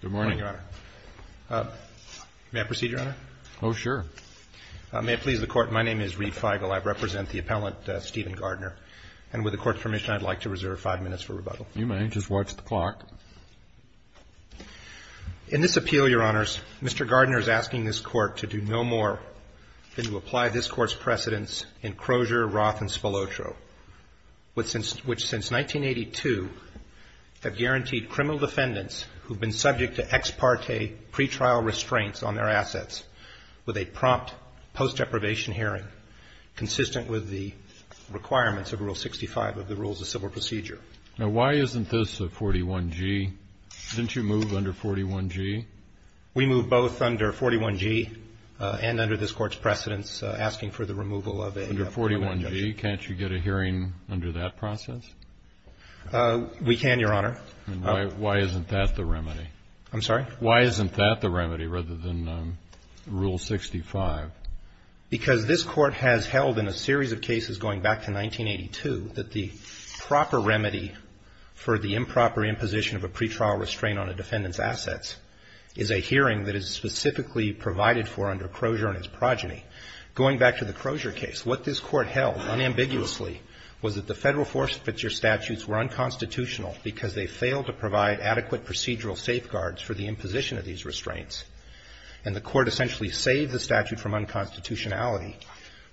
Good morning, Your Honor. May I proceed, Your Honor? Oh, sure. May it please the Court, my name is Reid Feigl. I represent the appellant, Stephen Gardner. And with the Court's permission, I'd like to reserve five minutes for rebuttal. You may. Just watch the clock. In this appeal, Your Honors, Mr. Gardner is asking this Court to do no more than to apply this Court's precedents in Crozier, Roth, and Spilotro, which since 1982 have guaranteed criminal defendants who've been subject to ex parte pretrial restraints on their assets with a prompt post-deprivation hearing consistent with the requirements of Rule 65 of the Rules of Civil Procedure. Now, why isn't this a 41G? Didn't you move under 41G? We moved both under 41G and under this Court's precedents asking for the removal of a criminal defendant. Under 41G, can't you get a hearing under that process? We can, Your Honor. Why isn't that the remedy? I'm sorry? Why isn't that the remedy rather than Rule 65? Because this Court has held in a series of cases going back to 1982 that the proper remedy for the improper imposition of a pretrial restraint on a defendant's assets is a hearing that is specifically provided for under Crozier and its progeny. Going back to the Crozier case, what this Court held unambiguously was that the Federal force picture statutes were unconstitutional because they failed to provide adequate procedural safeguards for the imposition of these restraints. And the Court essentially saved the statute from unconstitutionality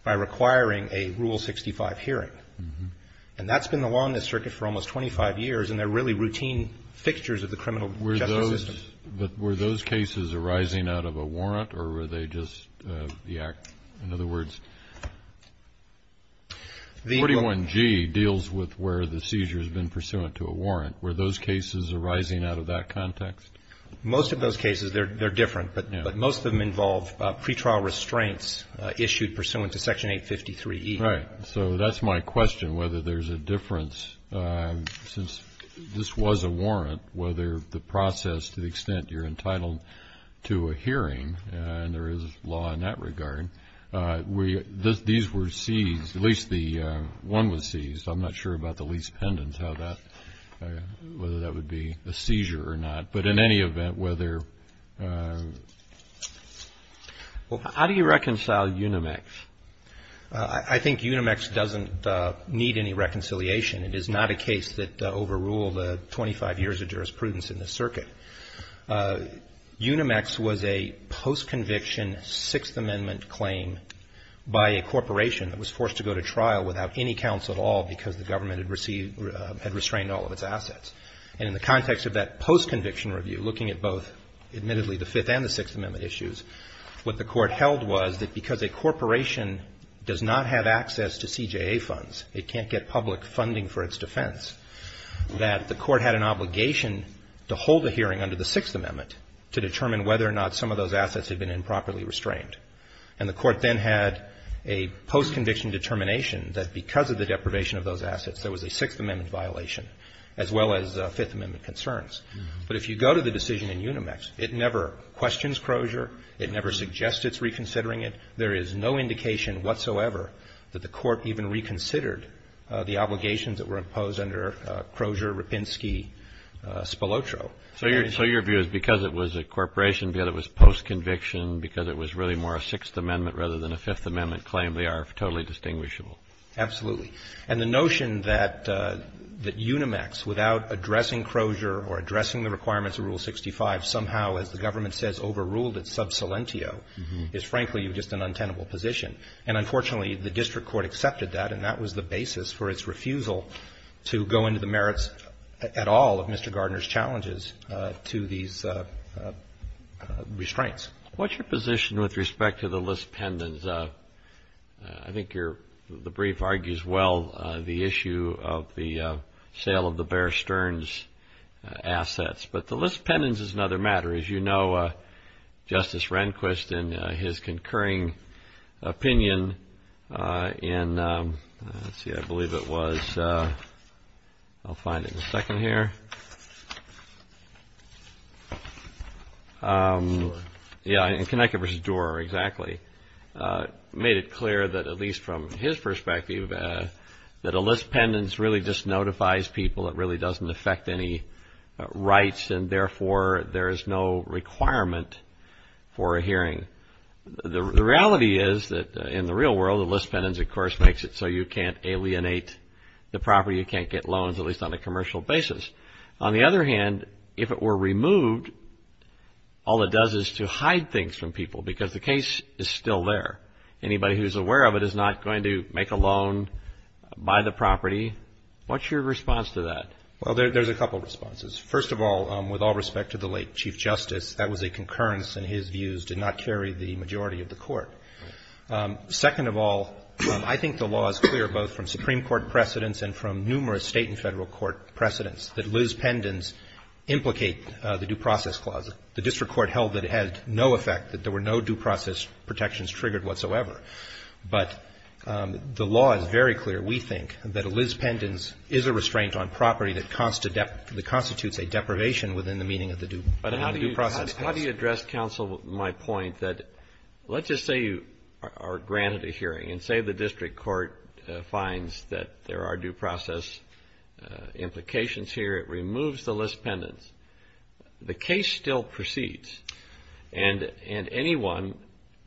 by requiring a Rule 65 hearing. And that's been the law in this circuit for almost 25 years, and they're really routine fixtures of the criminal justice system. But were those cases arising out of a warrant, or were they just the act? In other words, 41G deals with where the seizure has been pursuant to a warrant. Were those cases arising out of that context? Most of those cases, they're different. But most of them involve pretrial restraints issued pursuant to Section 853E. Right. So that's my question, whether there's a difference. Since this was a warrant, whether the process, to the extent you're entitled to a hearing, and there is law in that regard, these were seized, at least the one was seized. I'm not sure about the lease pendants, whether that would be a seizure or not. But in any event, whether... Well, how do you reconcile Unimax? I think Unimax doesn't need any reconciliation. It is not a case that overruled 25 years of jurisprudence in this circuit. Unimax was a post-conviction Sixth Amendment claim by a corporation that was forced to go to trial without any counsel at all because the government had restrained all of its assets. And in the context of that post-conviction review, looking at both, admittedly, the Fifth and the Sixth Amendment issues, what the Court held was that because a corporation does not have access to CJA funds, it can't get public funding for its defense, that the Court had an obligation to hold a hearing under the Sixth Amendment to determine whether or not some of those assets had been improperly restrained. And the Court then had a post-conviction determination that because of the deprivation of those assets, there was a Sixth Amendment violation, as well as Fifth Amendment concerns. But if you go to the decision in Unimax, it never questions Crozier. It never suggests it's reconsidering it. There is no indication whatsoever that the Court even reconsidered the obligations that were imposed under Crozier, Rapinski, Spilotro. So your view is because it was a corporation, because it was post-conviction, because it was really more a Sixth Amendment rather than a Fifth Amendment claim, they are totally distinguishable? Absolutely. And the notion that Unimax, without addressing Crozier or addressing the requirements of Rule 65, somehow, as the government says, overruled its sub salentio, is frankly just an untenable position. And unfortunately, the District Court accepted that. And that was the basis for its refusal to go into the merits at all of Mr. Gardner's challenges to these restraints. What's your position with respect to the List Pendants? I think the brief argues well the issue of the sale of the Bear Stearns assets. But the List Pendants is another matter. As you know, Justice Rehnquist, in his concurring opinion in, let's see, I believe it was, I'll find it in a second here, Connecticut versus Doar, exactly, made it clear that, at least from his perspective, that a List Pendants really just notifies people. It really doesn't affect any rights. And therefore, there is no requirement for a hearing. The reality is that in the real world, a List Pendants, of course, makes it so you can't alienate the property. You can't get loans, at least on a commercial basis. On the other hand, if it were removed, all it does is to hide things from people because the case is still there. Anybody who's aware of it is not going to make a loan, buy the property. What's your response to that? Well, there's a couple of responses. First of all, with all respect to the late Chief Justice, that was a concurrence in his views, did not carry the majority of the Court. Second of all, I think the law is clear, both from Supreme Court precedents and from numerous State and Federal Court precedents, that List Pendants implicate the Due Process Clause. The district court held that it had no effect, that there were no due process protections triggered whatsoever. But the law is very clear. We think that a List Pendants is a restraint on property that constitutes a deprivation within the meaning of the Due Process Clause. How do you address, counsel, my point that let's just say you are granted a hearing and say the district court finds that there are due process implications here. It removes the List Pendants. The case still proceeds. And anyone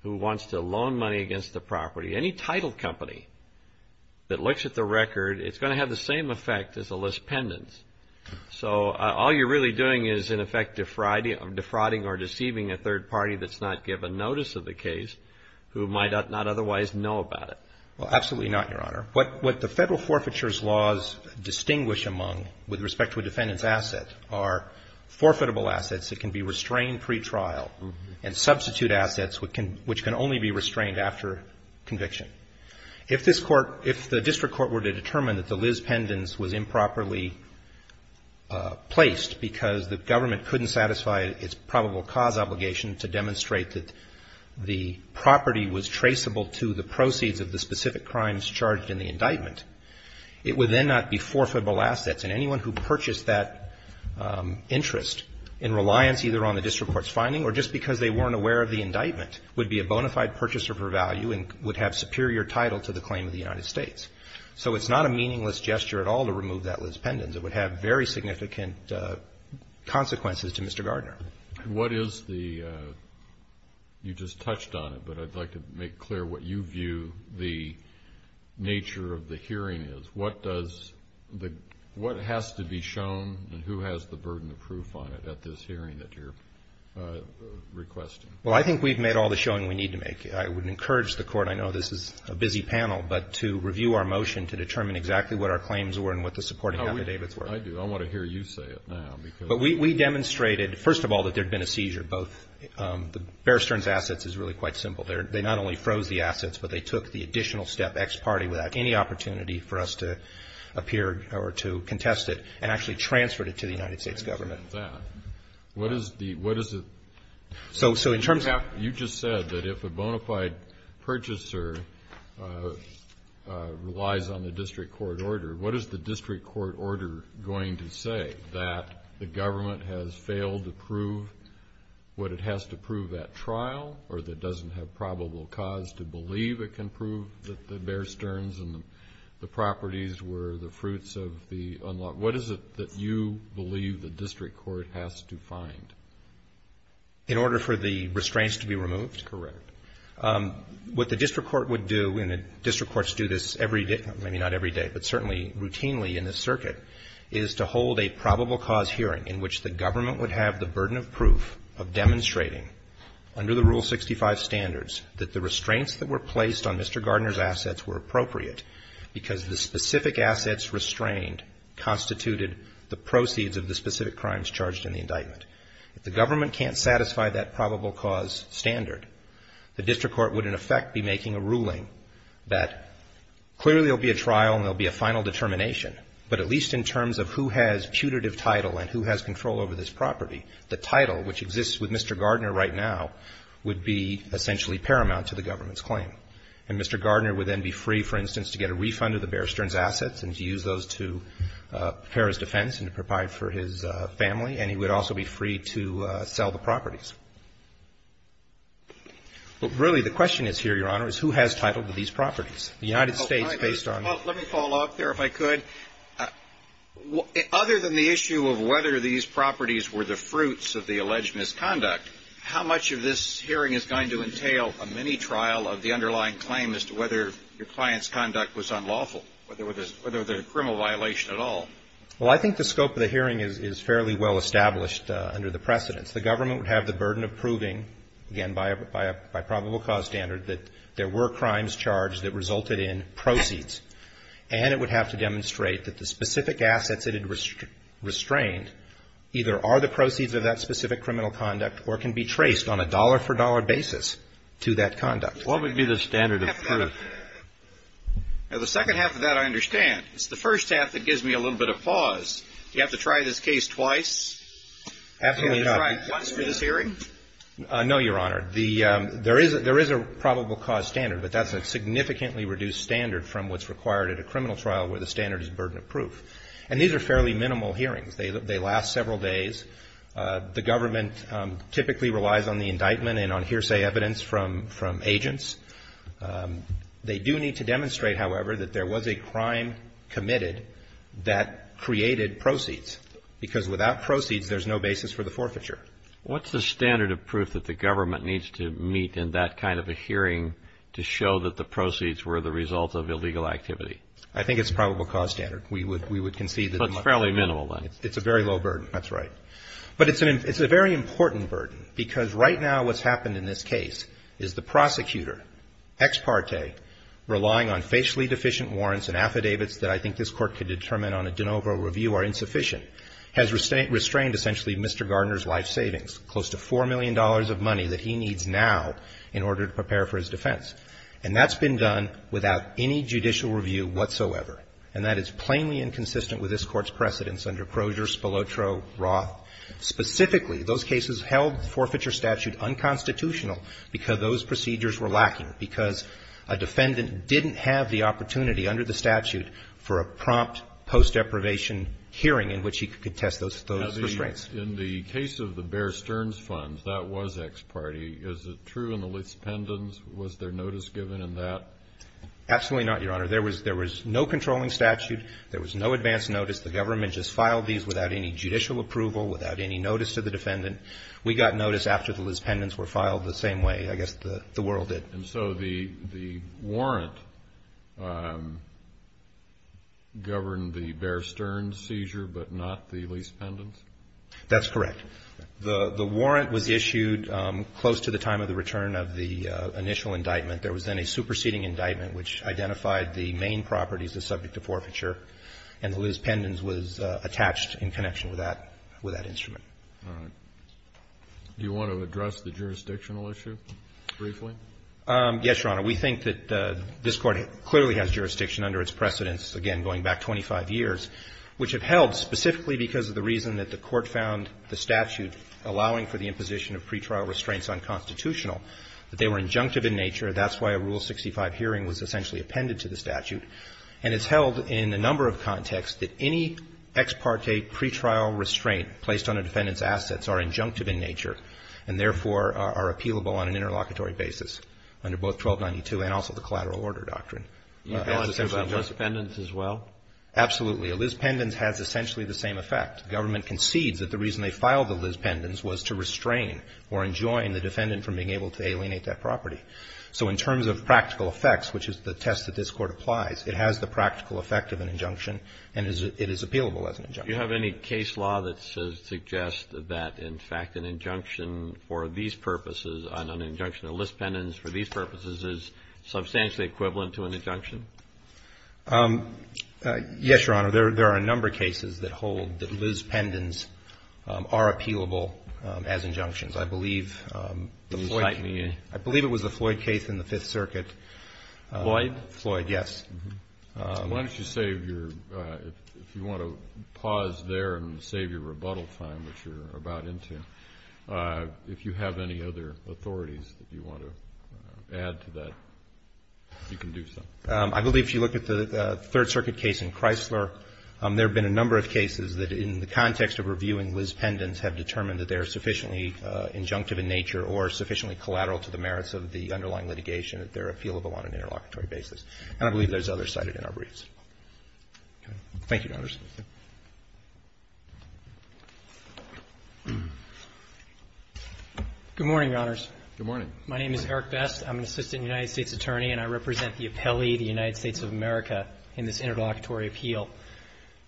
who wants to loan money against the property, any title company that looks at the record, it's going to have the same effect as a List Pendants. So all you're really doing is, in effect, defrauding or deceiving a third party that's not given notice of the case who might not otherwise know about it. Well, absolutely not, Your Honor. What the Federal Forfeitures Laws distinguish among, with respect to a defendant's asset, are forfeitable assets that can be restrained pretrial and substitute assets which can only be restrained after conviction. If this court, if the district court were to determine that the List Pendants was improperly placed because the government couldn't satisfy its probable cause obligation to demonstrate that the property was traceable to the proceeds of the specific crimes charged in the indictment, it would then not be forfeitable assets. And anyone who purchased that interest in reliance either on the district court's finding or just because they weren't aware of the indictment would be a bona fide purchaser for value and would have superior title to the claim of the United States. So it's not a meaningless gesture at all to remove that List Pendants. It would have very significant consequences to Mr. Gardner. What is the, you just touched on it, but I'd like to make clear what you view the nature of the hearing is. What does the, what has to be shown and who has the burden of proof on it at this hearing that you're requesting? Well, I think we've made all the showing we need to make. I would encourage the court, I know this is a busy panel, but to review our motion to determine exactly what our claims were and what the supporting affidavits were. I do. I want to hear you say it now. But we demonstrated, first of all, that there'd been a seizure. Both the Bear Stearns assets is really quite simple. They're, they not only froze the assets, but they took the additional step ex parte without any opportunity for us to appear or to contest it and actually transferred it to the United States government. What is the, what is it? So, so in terms of, you just said that if a bona fide purchaser relies on the district court order, what is the district court order going to say? That the government has failed to prove what it has to prove at trial or that doesn't have probable cause to believe it can prove that the Bear Stearns and the properties were the fruits of the unlawful, what is it that you believe the district court has to find? In order for the restraints to be removed? Correct. What the district court would do, and the district courts do this every day, maybe not every day, but certainly routinely in this circuit, is to hold a probable cause hearing in which the government would have the burden of proof of demonstrating under the Rule 65 standards that the restraints that were placed on Mr. Gardner's assets were appropriate because the specific assets restrained constituted the proceeds of the specific crimes charged in the indictment. If the government can't satisfy that probable cause standard, the district court would, in effect, be making a ruling that clearly will be a trial and there'll be a final determination, but at least in terms of who has putative title and who has control over this property, the title which exists with Mr. Gardner right now would be essentially paramount to the government's claim. And Mr. Gardner would then be free, for instance, to get a refund of the Bear Stearns' assets and to use those to prepare his defense and to provide for his family, and he would also be free to sell the properties. But really, the question is here, Your Honor, is who has title to these properties? The United States, based on the ---- Well, let me follow up there, if I could. Other than the issue of whether these properties were the fruits of the alleged misconduct, how much of this hearing is going to entail a mini-trial of the underlying claim as to whether your client's conduct was unlawful, whether there was a criminal violation at all? Well, I think the scope of the hearing is fairly well established under the precedents. The government would have the burden of proving, again, by probable cause standard, that there were crimes charged that resulted in proceeds, and it would have to demonstrate that the specific assets it had restrained either are the proceeds of that specific criminal conduct or can be traced on a dollar-for-dollar basis to that conduct. What would be the standard of proof? Now, the second half of that I understand. It's the first half that gives me a little bit of pause. Do you have to try this case twice? Absolutely not. Can you try it once for this hearing? No, Your Honor. The ---- There is a probable cause standard, but that's a significantly reduced standard from what's required at a criminal trial where the standard is burden of proof. And these are fairly minimal hearings. They last several days. The government typically relies on the indictment and on hearsay evidence from agents. They do need to demonstrate, however, that there was a crime committed that created proceeds. Because without proceeds, there's no basis for the forfeiture. What's the standard of proof that the government needs to meet in that kind of a hearing to show that the proceeds were the result of illegal activity? I think it's probable cause standard. We would concede that ---- So it's fairly minimal, then. It's a very low burden. That's right. But it's a very important burden, because right now what's happened in this case is the prosecutor, ex parte, relying on facially deficient warrants and affidavits that I think this Court could determine on a de novo review are insufficient. And that's been done without any judicial review whatsoever. And that is plainly inconsistent with this Court's precedence under Crozier, Spilotro, Roth. Specifically, those cases held forfeiture statute unconstitutional because those procedures were lacking, because a defendant didn't have the opportunity under the statute for a prompt post-deprivation hearing in which he could have a trial. In the case of the Bear Stearns funds, that was ex parte. Is it true in the Liz Pendens, was there notice given in that? Absolutely not, Your Honor. There was no controlling statute. There was no advance notice. The government just filed these without any judicial approval, without any notice to the defendant. We got notice after the Liz Pendens were filed the same way, I guess the world did. And so the warrant governed the Bear Stearns seizure, but not the Liz Pendens? That's correct. The warrant was issued close to the time of the return of the initial indictment. There was then a superseding indictment which identified the main properties that are subject to forfeiture, and the Liz Pendens was attached in connection with that instrument. All right. Do you want to address the jurisdictional issue briefly? Yes, Your Honor. We think that this Court clearly has jurisdiction under its precedents, again, going back 25 years, which have held specifically because of the reason that the Court found the statute allowing for the imposition of pretrial restraints unconstitutional, that they were injunctive in nature. That's why a Rule 65 hearing was essentially appended to the statute. And it's held in a number of contexts that any ex parte pretrial restraint placed on a defendant's assets are injunctive in nature and, therefore, are appealable on an interlocutory basis under both 1292 and also the Collateral Order Doctrine. Do you have an answer about Liz Pendens as well? Absolutely. A Liz Pendens has essentially the same effect. The government concedes that the reason they filed the Liz Pendens was to restrain or enjoin the defendant from being able to alienate that property. So in terms of practical effects, which is the test that this Court applies, it has the practical effect of an injunction, and it is appealable as an injunction. Do you have any case law that suggests that, in fact, an injunction for these purposes, an injunction of Liz Pendens for these purposes, is substantially equivalent to an injunction? Yes, Your Honor. There are a number of cases that hold that Liz Pendens are appealable as injunctions. I believe it was the Floyd case in the Fifth Circuit. Floyd? Floyd, yes. Why don't you save your, if you want to pause there and save your rebuttal time, which you're about into, if you have any other authorities that you want to add to that, you can do so. I believe if you look at the Third Circuit case in Chrysler, there have been a number of cases that in the context of reviewing Liz Pendens have determined that they're sufficiently injunctive in nature or sufficiently collateral to the merits of the underlying litigation that they're appealable on an interlocutory basis. And I believe there's others cited in our briefs. Thank you, Your Honors. Good morning, Your Honors. Good morning. My name is Eric Best. I'm an assistant United States attorney, and I represent the appellee, the United States of America, in this interlocutory appeal,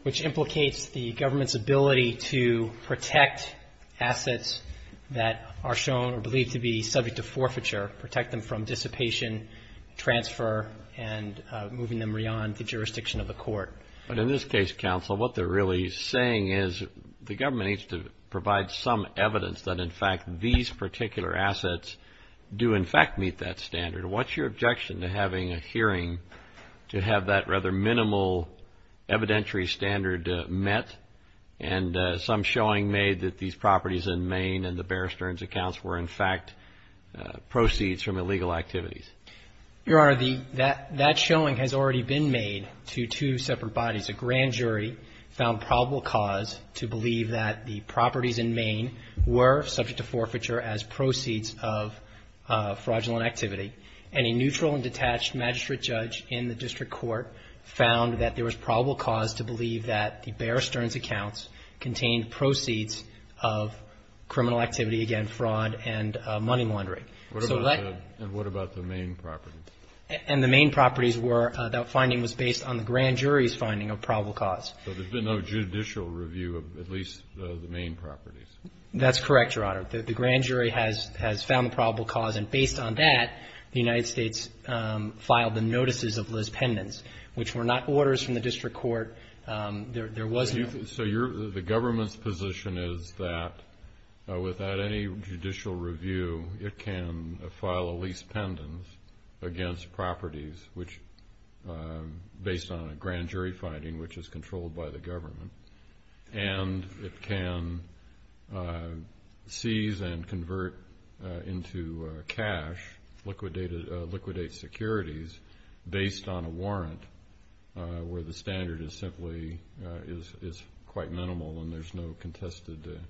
which implicates the government's ability to protect assets that are shown or believed to be subject to forfeiture, protect them from dissipation, transfer, and, you know, and moving them beyond the jurisdiction of the court. But in this case, counsel, what they're really saying is the government needs to provide some evidence that, in fact, these particular assets do, in fact, meet that standard. What's your objection to having a hearing to have that rather minimal evidentiary standard met and some showing made that these properties in Maine and the Bear Stearns accounts were, in fact, proceeds from illegal activities? Your Honor, that showing has already been made to two separate bodies. A grand jury found probable cause to believe that the properties in Maine were subject to forfeiture as proceeds of fraudulent activity. And a neutral and detached magistrate judge in the district court found that there was probable cause to believe that the Bear Stearns accounts contained proceeds of criminal activity, again, fraud and money laundering. And what about the Maine properties? And the Maine properties were, that finding was based on the grand jury's finding of probable cause. So there's been no judicial review of at least the Maine properties? That's correct, Your Honor. The grand jury has found the probable cause, and based on that, the United States filed the notices of lispendence, which were not orders from the district court. So the government's position is that without any judicial review, it can file a lispendence against properties based on a grand jury finding, which is controlled by the government. And it can seize and convert into cash, liquidate securities based on a warrant where the standard is simply, is quite minimal and there's no contested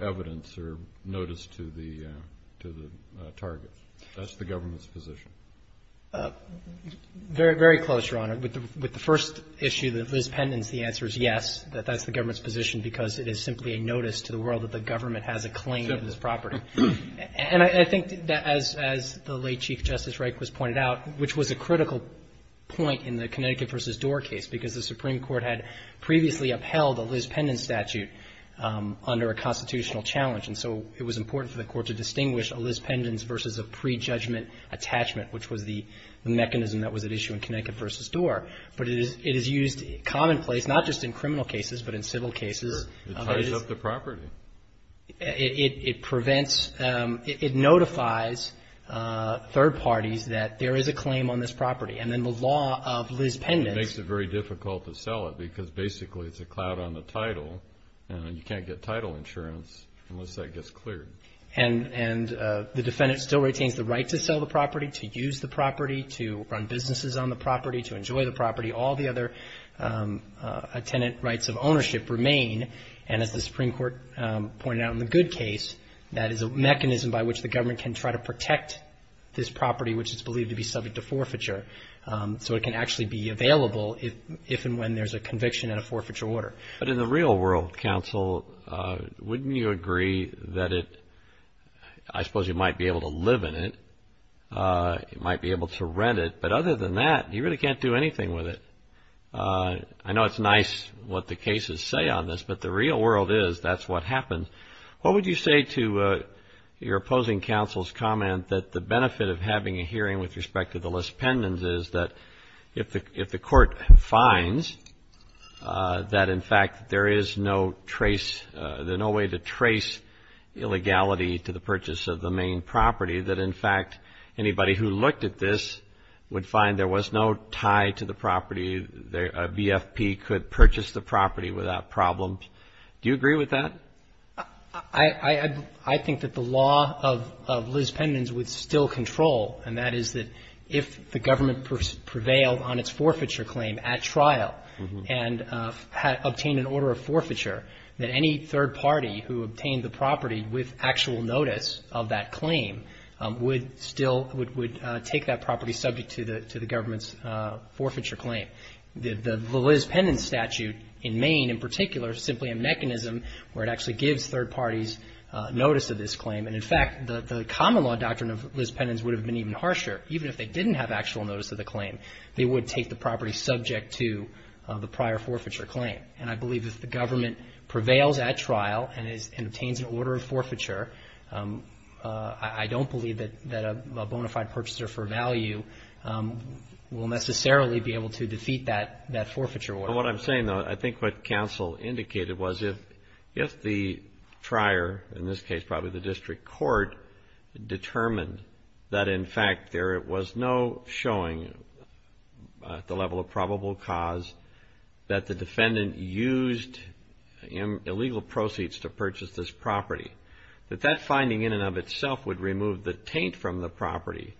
evidence or notice to the target. That's the government's position. With the first issue, the lispendence, the answer is yes, that that's the government's position because it is simply a notice to the world that the government has a claim on this property. And I think that as the late Chief Justice Reikwes pointed out, which was a critical point in the Connecticut v. Dorr case, because the Supreme Court had previously upheld a lispendence statute under a constitutional challenge. And so it was important for the court to distinguish a lispendence versus a prejudgment attachment, which was the mechanism that was at issue in Connecticut v. Dorr. But it is used commonplace, not just in criminal cases, but in civil cases. It ties up the property. It prevents, it notifies third parties that there is a claim on this property. And then the law of lispendence. And it makes it very difficult to sell it because basically it's a cloud on the title and you can't get title insurance unless that gets cleared. And the defendant still retains the right to sell the property, to use the property, to run businesses on the property, to enjoy the property. All the other attendant rights of ownership remain. And as the Supreme Court pointed out in the Goode case, that is a mechanism by which the government can try to protect this property, which is believed to be subject to forfeiture. So it can actually be available if and when there's a conviction and a forfeiture order. But in the real world, counsel, wouldn't you agree that it, I suppose you might be able to live in it, it might be able to rent it. But other than that, you really can't do anything with it. I know it's nice what the cases say on this, but the real world is that's what happens. What would you say to your opposing counsel's comment that the benefit of having a hearing with respect to the lispendence is that if the court finds that, in fact, there is no trace, there's no way to trace illegality to the purchase of the main property, that, in fact, anybody who looked at this would find there was no tie to the property. A BFP could purchase the property without problems. Do you agree with that? I think that the law of lispendence would still control. And that is that if the government prevailed on its forfeiture claim at trial and obtained an order of forfeiture, that any third party who obtained the property with actual notice of that claim would still would take that property subject to the government's forfeiture claim. The lispendence statute in Maine, in particular, is simply a mechanism where it actually gives third parties notice of this claim. And, in fact, the common law doctrine of lispendence would have been even harsher. Even if they didn't have actual notice of the claim, they would take the property subject to the prior forfeiture claim. And I believe if the government prevails at trial and obtains an order of forfeiture, I don't believe that a bona fide purchaser for value will necessarily be able to defeat that forfeiture order. What I'm saying, though, I think what counsel indicated was if the trier, in this case, probably the district court, determined that, in fact, there was no showing at the level of probable cause that the defendant used illegal proceeds to purchase this property, that that finding in and of itself would remove the taint from the property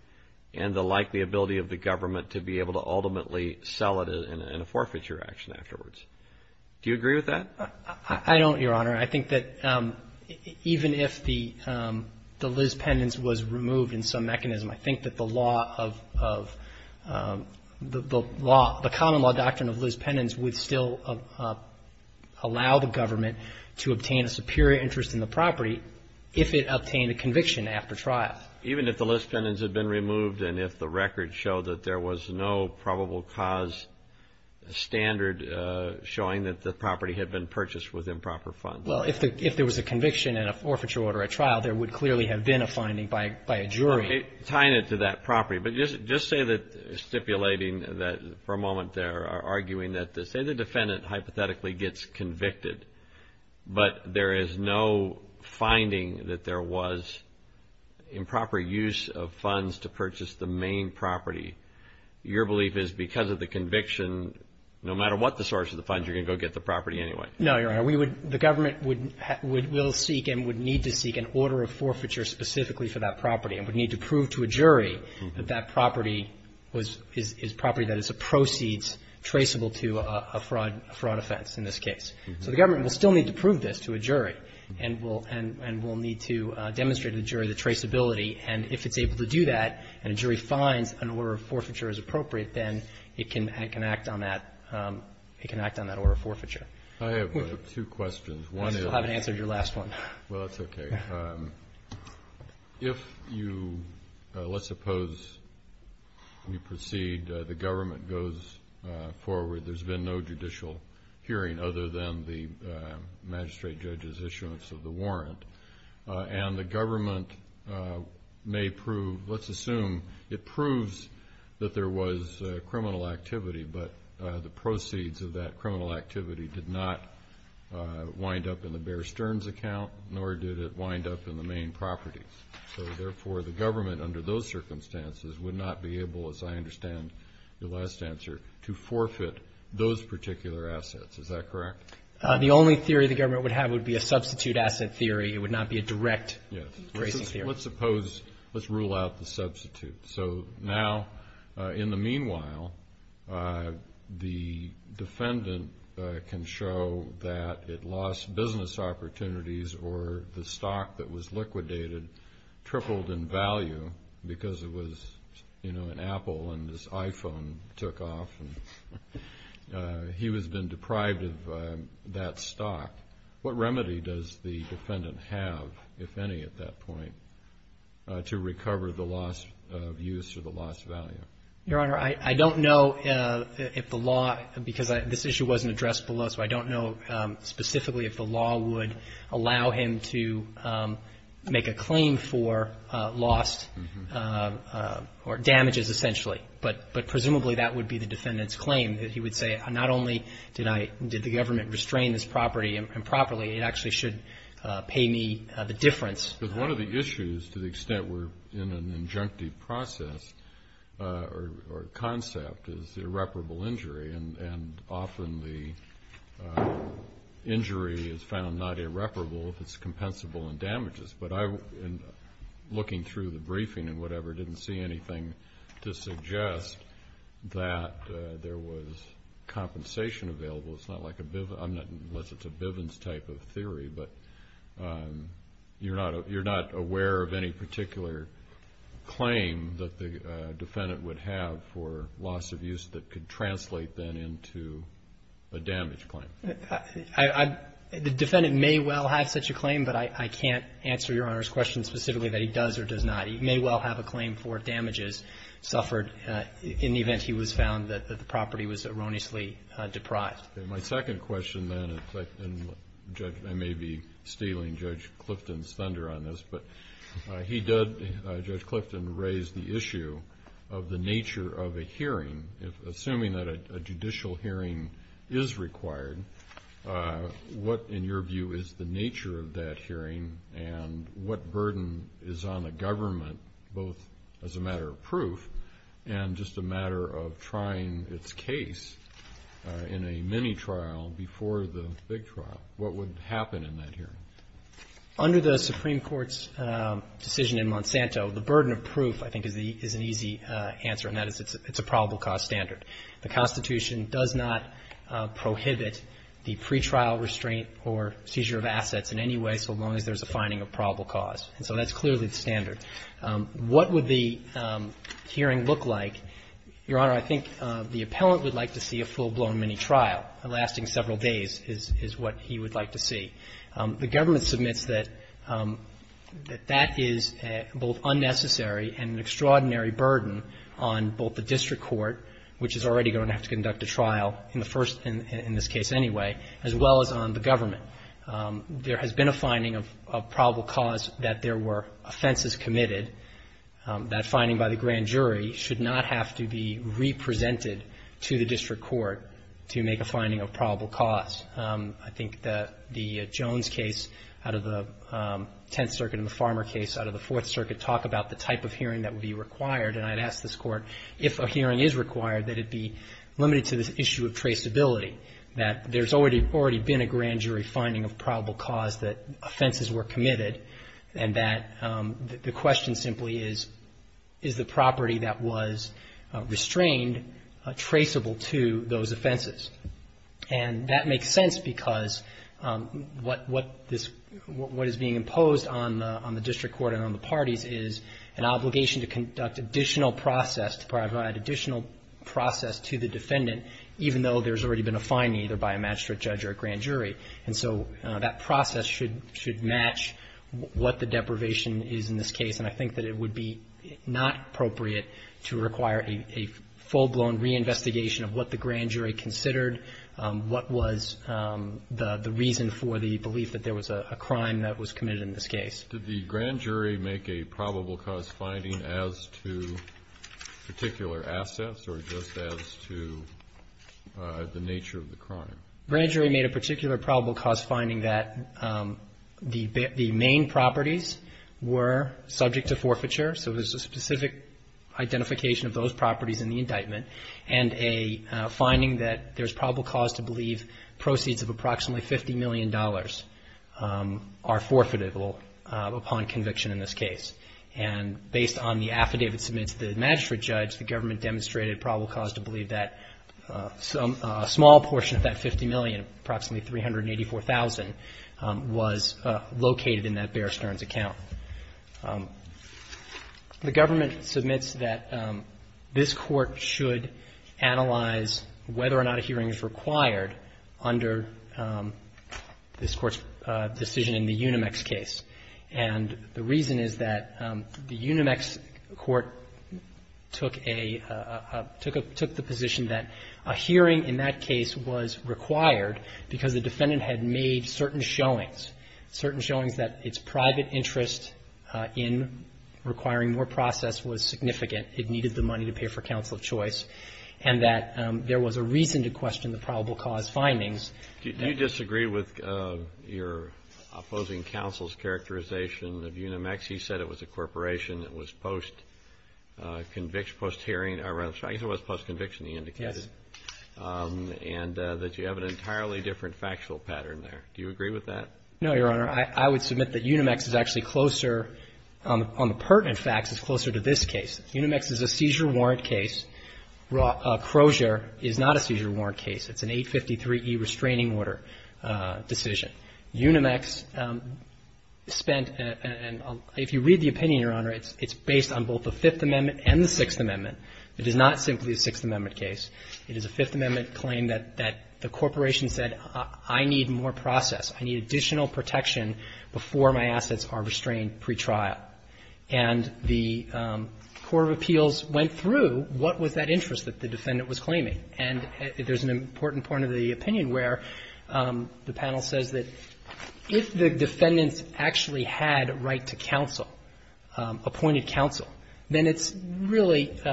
and the likely ability of the government to be able to ultimately sell it in a forfeiture action afterwards. Do you agree with that? I don't, Your Honor. I think that even if the lispendence was removed in some mechanism, I think that the law of the law, the common law doctrine of lispendence would still allow the government to obtain a superior interest in the property if it obtained a conviction after trial. Even if the lispendence had been removed and if the record showed that there was no probable cause standard showing that the property had been purchased with improper funds. Well, if there was a conviction and a forfeiture order at trial, there would clearly have been a finding by a jury. Tying it to that property, but just say that stipulating that, for a moment there, arguing that say the defendant hypothetically gets convicted, but there is no finding that there was improper use of funds to purchase the main property. Your belief is because of the conviction, no matter what the source of the funds, you're going to go get the property anyway. No, Your Honor. The government will seek and would need to seek an order of forfeiture specifically for that property and would need to prove to a jury that that property is property that is a proceeds traceable to a fraud offense, in this case. So the government will still need to prove this to a jury and will need to demonstrate to the jury the traceability and if it's able to do that and a jury finds an order of forfeiture is appropriate, then it can act on that order of forfeiture. I have two questions. I still haven't answered your last one. Well, that's okay. If you, let's suppose you proceed, the government goes forward, there's been no judicial hearing other than the magistrate judge's issuance of the warrant and the government may prove, let's assume it proves that there was criminal activity, but the proceeds of that criminal activity did not wind up in the Bear Stearns account, nor did it wind up in the main properties. So therefore, the government under those circumstances would not be able, as I understand your last answer, to forfeit those particular assets. Is that correct? The only theory the government would have would be a substitute asset theory. It would not be a direct tracing theory. Let's suppose, let's rule out the substitute. So now, in the meanwhile, the defendant can show that it lost business opportunities or the stock that was liquidated tripled in value because it was, you know, an Apple and this iPhone took off and he has been deprived of that stock. What remedy does the defendant have, if any at that point, to recover the loss of use or the lost value? Your Honor, I don't know if the law, because this issue wasn't addressed below, so I don't know specifically if the law would allow him to make a claim for lost or damages essentially. But presumably, that would be the defendant's claim, that he would say, not only did I, did the government restrain this property improperly, it actually should pay me the difference. But one of the issues, to the extent we're in an injunctive process or concept, is irreparable injury, and often the injury is found not irreparable if it's compensable in damages. But I, in looking through the briefing and whatever, didn't see anything to suggest that there was compensation available. It's not like a, I'm not, unless it's a Bivens type of theory, but you're not aware of any particular claim that the defendant would have for loss of use that could translate then into a damage claim. I, the defendant may well have such a claim, but I can't answer Your Honor's question specifically that he does or does not. He may well have a claim for damages suffered in the event he was found that the property was erroneously deprived. My second question then, and Judge, I may be stealing Judge Clifton's thunder on this, but he did, Judge Clifton, raise the issue of the nature of a hearing. Assuming that a judicial hearing is required, what, in your view, is the nature of that hearing and what burden is on the government, both as a matter of proof and just a matter of trying its case in a mini trial before the big trial? What would happen in that hearing? Under the Supreme Court's decision in Monsanto, the burden of proof, I think, is an easy answer, and that is it's a probable cause standard. The Constitution does not prohibit the pretrial restraint or seizure of assets in any way so long as there's a finding of probable cause, and so that's clearly the standard. What would the hearing look like? Your Honor, I think the appellant would like to see a full-blown mini trial, lasting several days is what he would like to see. The government submits that that is both unnecessary and an extraordinary burden on both the district court, which is already going to have to conduct a trial in the first, in this case anyway, as well as on the government. There has been a finding of probable cause that there were offenses committed, that finding by the grand jury should not have to be re-presented to the district court to make a finding of probable cause. I think the Jones case out of the Tenth Circuit and the Farmer case out of the Fourth Circuit talk about the type of hearing that would be required, and I'd ask this Court, if a hearing is required, that it be limited to this issue of traceability, that there's already been a grand jury finding of probable cause that offenses were committed, and that the question simply is, is the property that was restrained traceable to those offenses? And that makes sense because what is being imposed on the district court and on the parties is an obligation to conduct additional process, to provide additional process to the defendant, even though there's already been a finding either by a magistrate judge or a grand jury. And so that process should match what the deprivation is in this case, and I think that it would be not appropriate to require a full-blown reinvestigation of what the grand jury considered, what was the reason for the belief that there was a crime that was committed in this case. Did the grand jury make a probable cause finding as to particular assets or just as to the nature of the crime? Grand jury made a particular probable cause finding that the main properties were subject to forfeiture, so there's a specific identification of those properties in the indictment, and a finding that there's probable cause to believe proceeds of approximately $50 million are forfeitable upon conviction in this case. And based on the affidavit submitted to the magistrate judge, the government demonstrated probable cause to believe that a small portion of that $50 million, approximately $384,000, was located in that Bear Stearns account. The government submits that this court should analyze whether or not a hearing is required under this court's decision in the Unimex case. And the reason is that the Unimex court took a – took the position that a hearing in that case was required because the defendant had made certain showings, certain showings that its private interest in requiring more process was significant, it needed the money to pay for counsel of choice, and that there was a reason to question the probable cause findings. Do you disagree with your opposing counsel's characterization of Unimex? He said it was a corporation, it was post-conviction, post-hearing, I guess it was post-conviction, he indicated. Yes. And that you have an entirely different factual pattern there. Do you agree with that? No, Your Honor. I would submit that Unimex is actually closer – on the pertinent facts, it's closer to this case. Unimex is a seizure warrant case. Crozier is not a seizure warrant case. It's an 853E restraining order decision. Unimex spent – and if you read the opinion, Your Honor, it's based on both the Fifth Amendment and the Sixth Amendment. It is not simply a Sixth Amendment case. It is a Fifth Amendment claim that the corporation said, I need more process, I need additional protection before my assets are restrained pretrial. And the court of appeals went through what was that interest that the defendant was claiming. And there's an important point of the opinion where the panel says that if the defendant actually had right to counsel, appointed counsel, then it's really –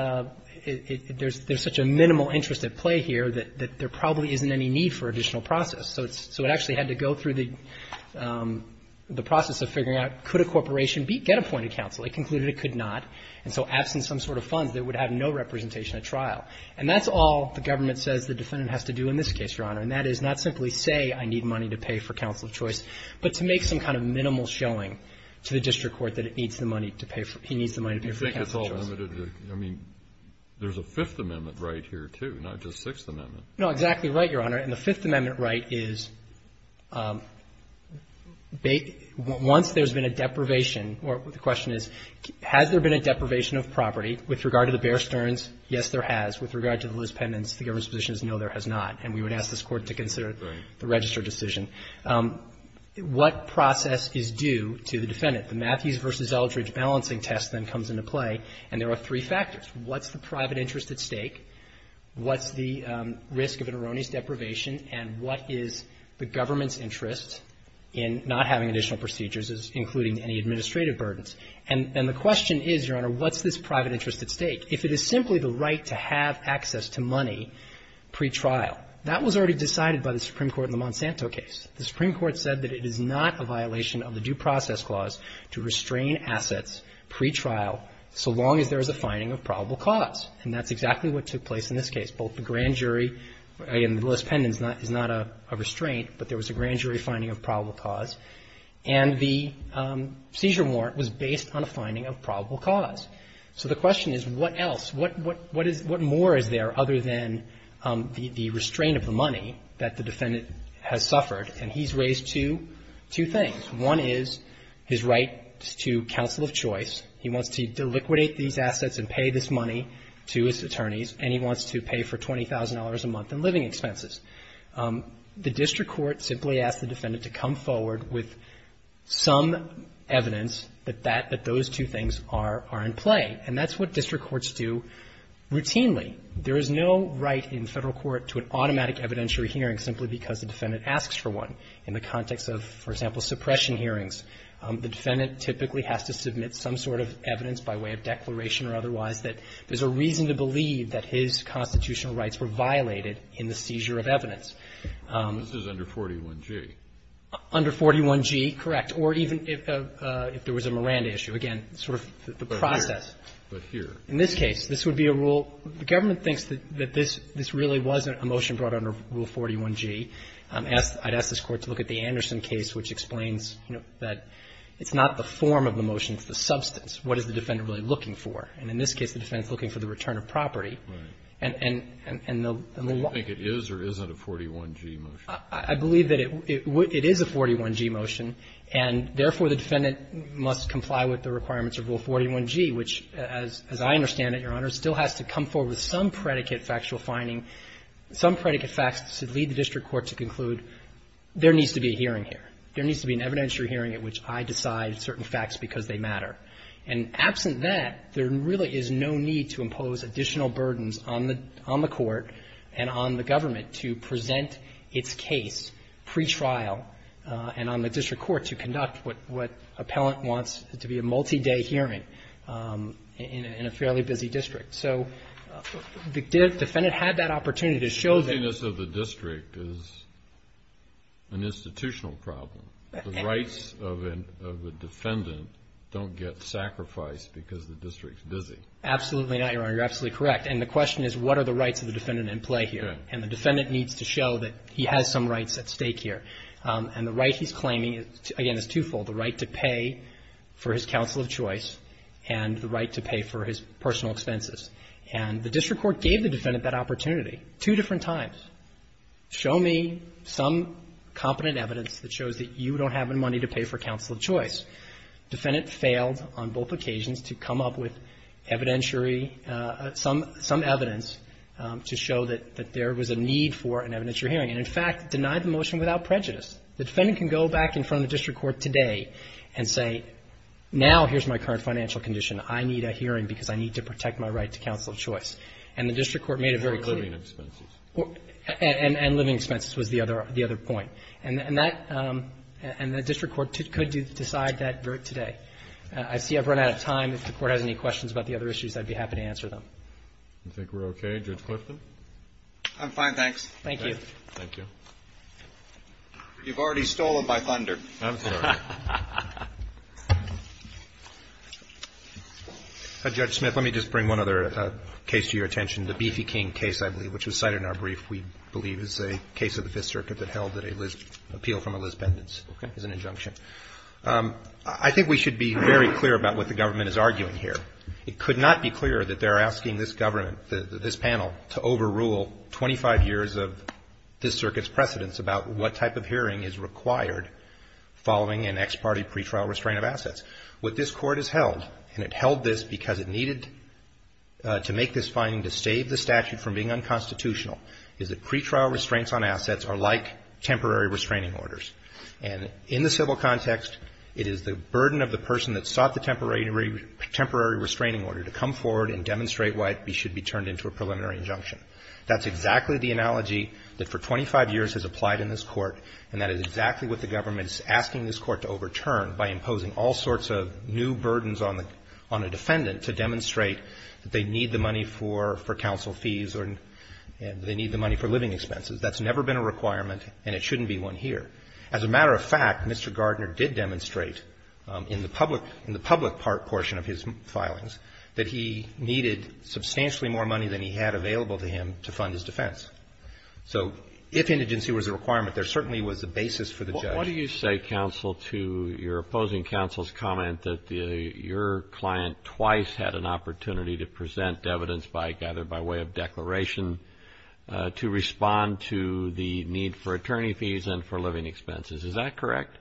there's such a minimal interest at play here that there probably isn't any need for additional process. So it actually had to go through the process of figuring out could a corporation get appointed counsel. It concluded it could not. And so absent some sort of funds, it would have no representation at trial. And that's all the government says the defendant has to do in this case, Your Honor. And that is not simply say, I need money to pay for counsel of choice, but to make some kind of minimal showing to the district court that it needs the money to pay for – he needs the money to pay for counsel of choice. I mean, there's a Fifth Amendment right here, too, not just Sixth Amendment. No, exactly right, Your Honor. And the Fifth Amendment right is once there's been a deprivation – or the question is has there been a deprivation of property with regard to the Bear Stearns? Yes, there has. With regard to the Lewis-Pendens, the government's position is no, there has not. And we would ask this Court to consider the registered decision. What process is due to the defendant? The Matthews v. Eldridge balancing test then comes into play, and there are three factors. What's the private interest at stake? What's the risk of an erroneous deprivation? And what is the government's interest in not having additional procedures, including any administrative burdens? If it is simply the right to have access to money pretrial, that was already decided by the Supreme Court in the Monsanto case. The Supreme Court said that it is not a violation of the due process clause to restrain assets pretrial so long as there is a finding of probable cause. And that's exactly what took place in this case. Both the grand jury – again, the Lewis-Pendens is not a restraint, but there was a grand jury finding of probable cause. And the seizure warrant was based on a finding of probable cause. So the question is, what else, what more is there other than the restraint of the money that the defendant has suffered? And he's raised two things. One is his right to counsel of choice. He wants to deliquidate these assets and pay this money to his attorneys, and he wants to pay for $20,000 a month in living expenses. The district court simply asked the defendant to come forward with some evidence that that – that those two things are in play. And that's what district courts do routinely. There is no right in Federal court to an automatic evidentiary hearing simply because the defendant asks for one. In the context of, for example, suppression hearings, the defendant typically has to submit some sort of evidence by way of declaration or otherwise that there's a reason to believe that his constitutional rights were violated in the seizure of evidence. This is under 41G. Under 41G, correct, or even if there was a Miranda issue. Again, sort of the process. But here. In this case, this would be a rule – the government thinks that this really was a motion brought under Rule 41G. I'd ask this Court to look at the Anderson case, which explains, you know, that it's not the form of the motion, it's the substance. What is the defendant really looking for? And in this case, the defendant is looking for the return of property. And the law – Do you think it is or isn't a 41G motion? I believe that it is a 41G motion, and therefore, the defendant must comply with the requirements of Rule 41G, which, as I understand it, Your Honor, still has to come forward with some predicate factual finding, some predicate facts to lead the district court to conclude there needs to be a hearing here, there needs to be an evidentiary hearing at which I decide certain facts because they matter. And absent that, there really is no need to impose additional burdens on the – on the Court and on the government to present its case pretrial and on the district court to conduct what – what appellant wants to be a multi-day hearing in a fairly busy district. So the defendant had that opportunity to show that – An institutional problem. The rights of a defendant don't get sacrificed because the district's busy. Absolutely not, Your Honor. You're absolutely correct. And the question is, what are the rights of the defendant in play here? And the defendant needs to show that he has some rights at stake here. And the right he's claiming, again, is twofold, the right to pay for his counsel of choice and the right to pay for his personal expenses. And the district court gave the defendant that opportunity two different times. Show me some competent evidence that shows that you don't have any money to pay for counsel of choice. Defendant failed on both occasions to come up with evidentiary – some – some evidence to show that – that there was a need for an evidentiary hearing. And, in fact, denied the motion without prejudice. The defendant can go back in front of the district court today and say, now here's my current financial condition. I need a hearing because I need to protect my right to counsel of choice. And the district court made it very clear. And living expenses. And living expenses was the other – the other point. And that – and the district court could decide that today. I see I've run out of time. If the Court has any questions about the other issues, I'd be happy to answer them. I think we're okay. Judge Clifton? I'm fine, thanks. Thank you. Thank you. You've already stolen by thunder. I'm sorry. Judge Smith, let me just bring one other case to your attention. The Beefy King case, I believe, which was cited in our brief, we believe is a case of the Fifth Circuit that held that an appeal from a lisbendence is an injunction. I think we should be very clear about what the government is arguing here. It could not be clearer that they're asking this government, this panel, to overrule 25 years of this Circuit's precedence about what type of hearing is required following an ex parte pretrial restraint of assets. What this Court has held, and it held this because it needed to make this finding to save the statute from being unconstitutional, is that pretrial restraints on assets are like temporary restraining orders. And in the civil context, it is the burden of the person that sought the temporary restraining order to come forward and demonstrate why it should be turned into a preliminary injunction. That's exactly the analogy that for 25 years has applied in this Court, and that is exactly what the government is asking this Court to overturn by imposing all sorts of new burdens on a defendant to demonstrate that they need the money for counsel fees or they need the money for living expenses. That's never been a requirement, and it shouldn't be one here. As a matter of fact, Mr. Gardner did demonstrate in the public part portion of his filings that he needed substantially more money than he had available to him to fund his defense. So if indigency was a requirement, there certainly was a basis for the judge. Why do you say, counsel, to your opposing counsel's comment that your client twice had an opportunity to present evidence either by way of declaration to respond to the need for attorney fees and for living expenses? Is that correct?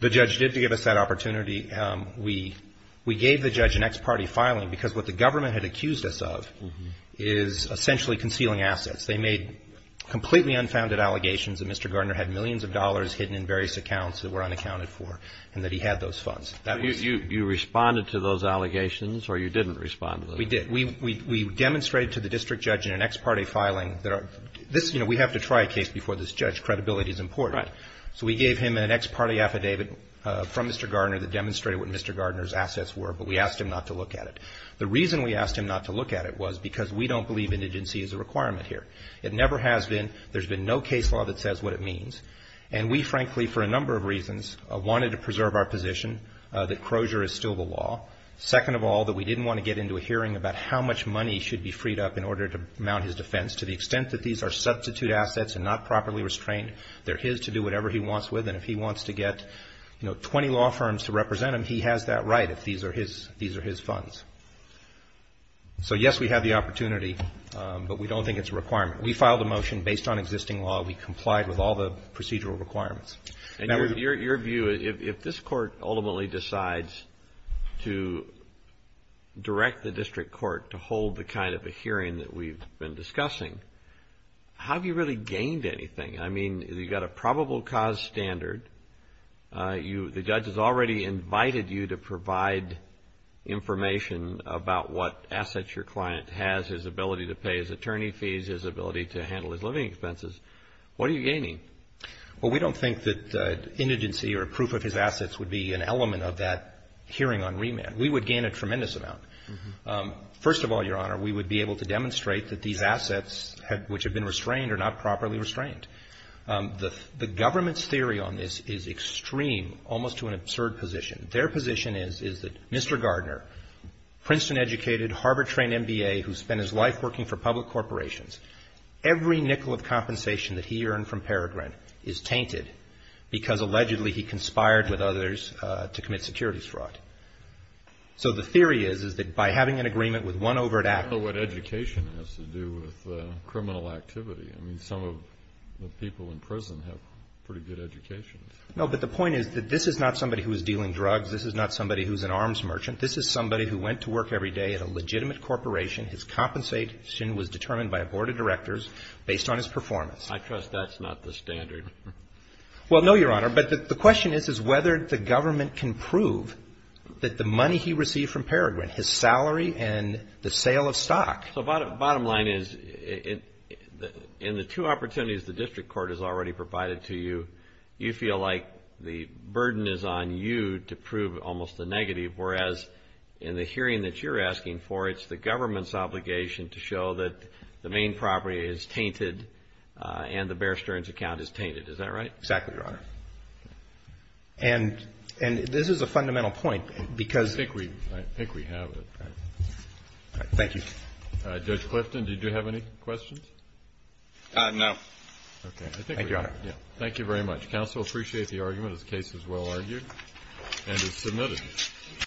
The judge did give us that opportunity. We gave the judge an ex parte filing because what the government had accused us of is essentially concealing assets. They made completely unfounded allegations that Mr. Gardner had millions of dollars hidden in various accounts that were unaccounted for, and that he had those funds. That was the case. You responded to those allegations, or you didn't respond to those? We did. We demonstrated to the district judge in an ex parte filing that this, you know, we have to try a case before this judge. Credibility is important. Right. So we gave him an ex parte affidavit from Mr. Gardner that demonstrated what Mr. Gardner's assets were, but we asked him not to look at it. The reason we asked him not to look at it was because we don't believe indigency is a requirement here. It never has been. There's been no case law that says what it means. And we, frankly, for a number of reasons, wanted to preserve our position that Crozier is still the law. Second of all, that we didn't want to get into a hearing about how much money should be freed up in order to mount his defense. To the extent that these are substitute assets and not properly restrained, they're his to do whatever he wants with. And if he wants to get, you know, 20 law firms to represent him, he has that right if these are his funds. So, yes, we have the opportunity, but we don't think it's a requirement. We filed a motion based on existing law. We complied with all the procedural requirements. And your view, if this court ultimately decides to direct the district court to hold the kind of a hearing that we've been discussing, how have you really gained anything? I mean, you've got a probable cause standard. The judge has already invited you to provide information about what assets your client has, his ability to pay his attorney fees, his ability to handle his living expenses. What are you gaining? Well, we don't think that indigency or proof of his assets would be an element of that hearing on remand. We would gain a tremendous amount. First of all, Your Honor, we would be able to demonstrate that these assets which have been restrained are not properly restrained. The government's theory on this is extreme, almost to an absurd position. Their position is that Mr. Gardner, Princeton-educated, Harvard-trained MBA who spent his life working for public corporations, every nickel of compensation that he earned from Peregrine is tainted because, allegedly, he conspired with others to commit securities fraud. So the theory is, is that by having an agreement with one over at Apple... I don't know what education has to do with criminal activity. I mean, some of the people in prison have pretty good educations. No, but the point is that this is not somebody who is dealing drugs. This is not somebody who's an arms merchant. This is somebody who went to work every day at a legitimate corporation. His compensation was determined by a board of directors based on his performance. I trust that's not the standard. Well, no, Your Honor. But the question is, is whether the government can prove that the money he received from Peregrine, his salary and the sale of stock... So bottom line is, in the two opportunities the district court has already provided to you, you feel like the burden is on you to prove almost the negative. Whereas, in the hearing that you're asking for, it's the government's obligation to show that the main property is tainted and the Bear Stearns account is tainted. Is that right? Exactly, Your Honor. And this is a fundamental point because... I think we have it. Thank you. Judge Clifton, did you have any questions? No. Okay. Thank you, Your Honor. Thank you very much. Counsel appreciate the argument. This case is well argued and is submitted.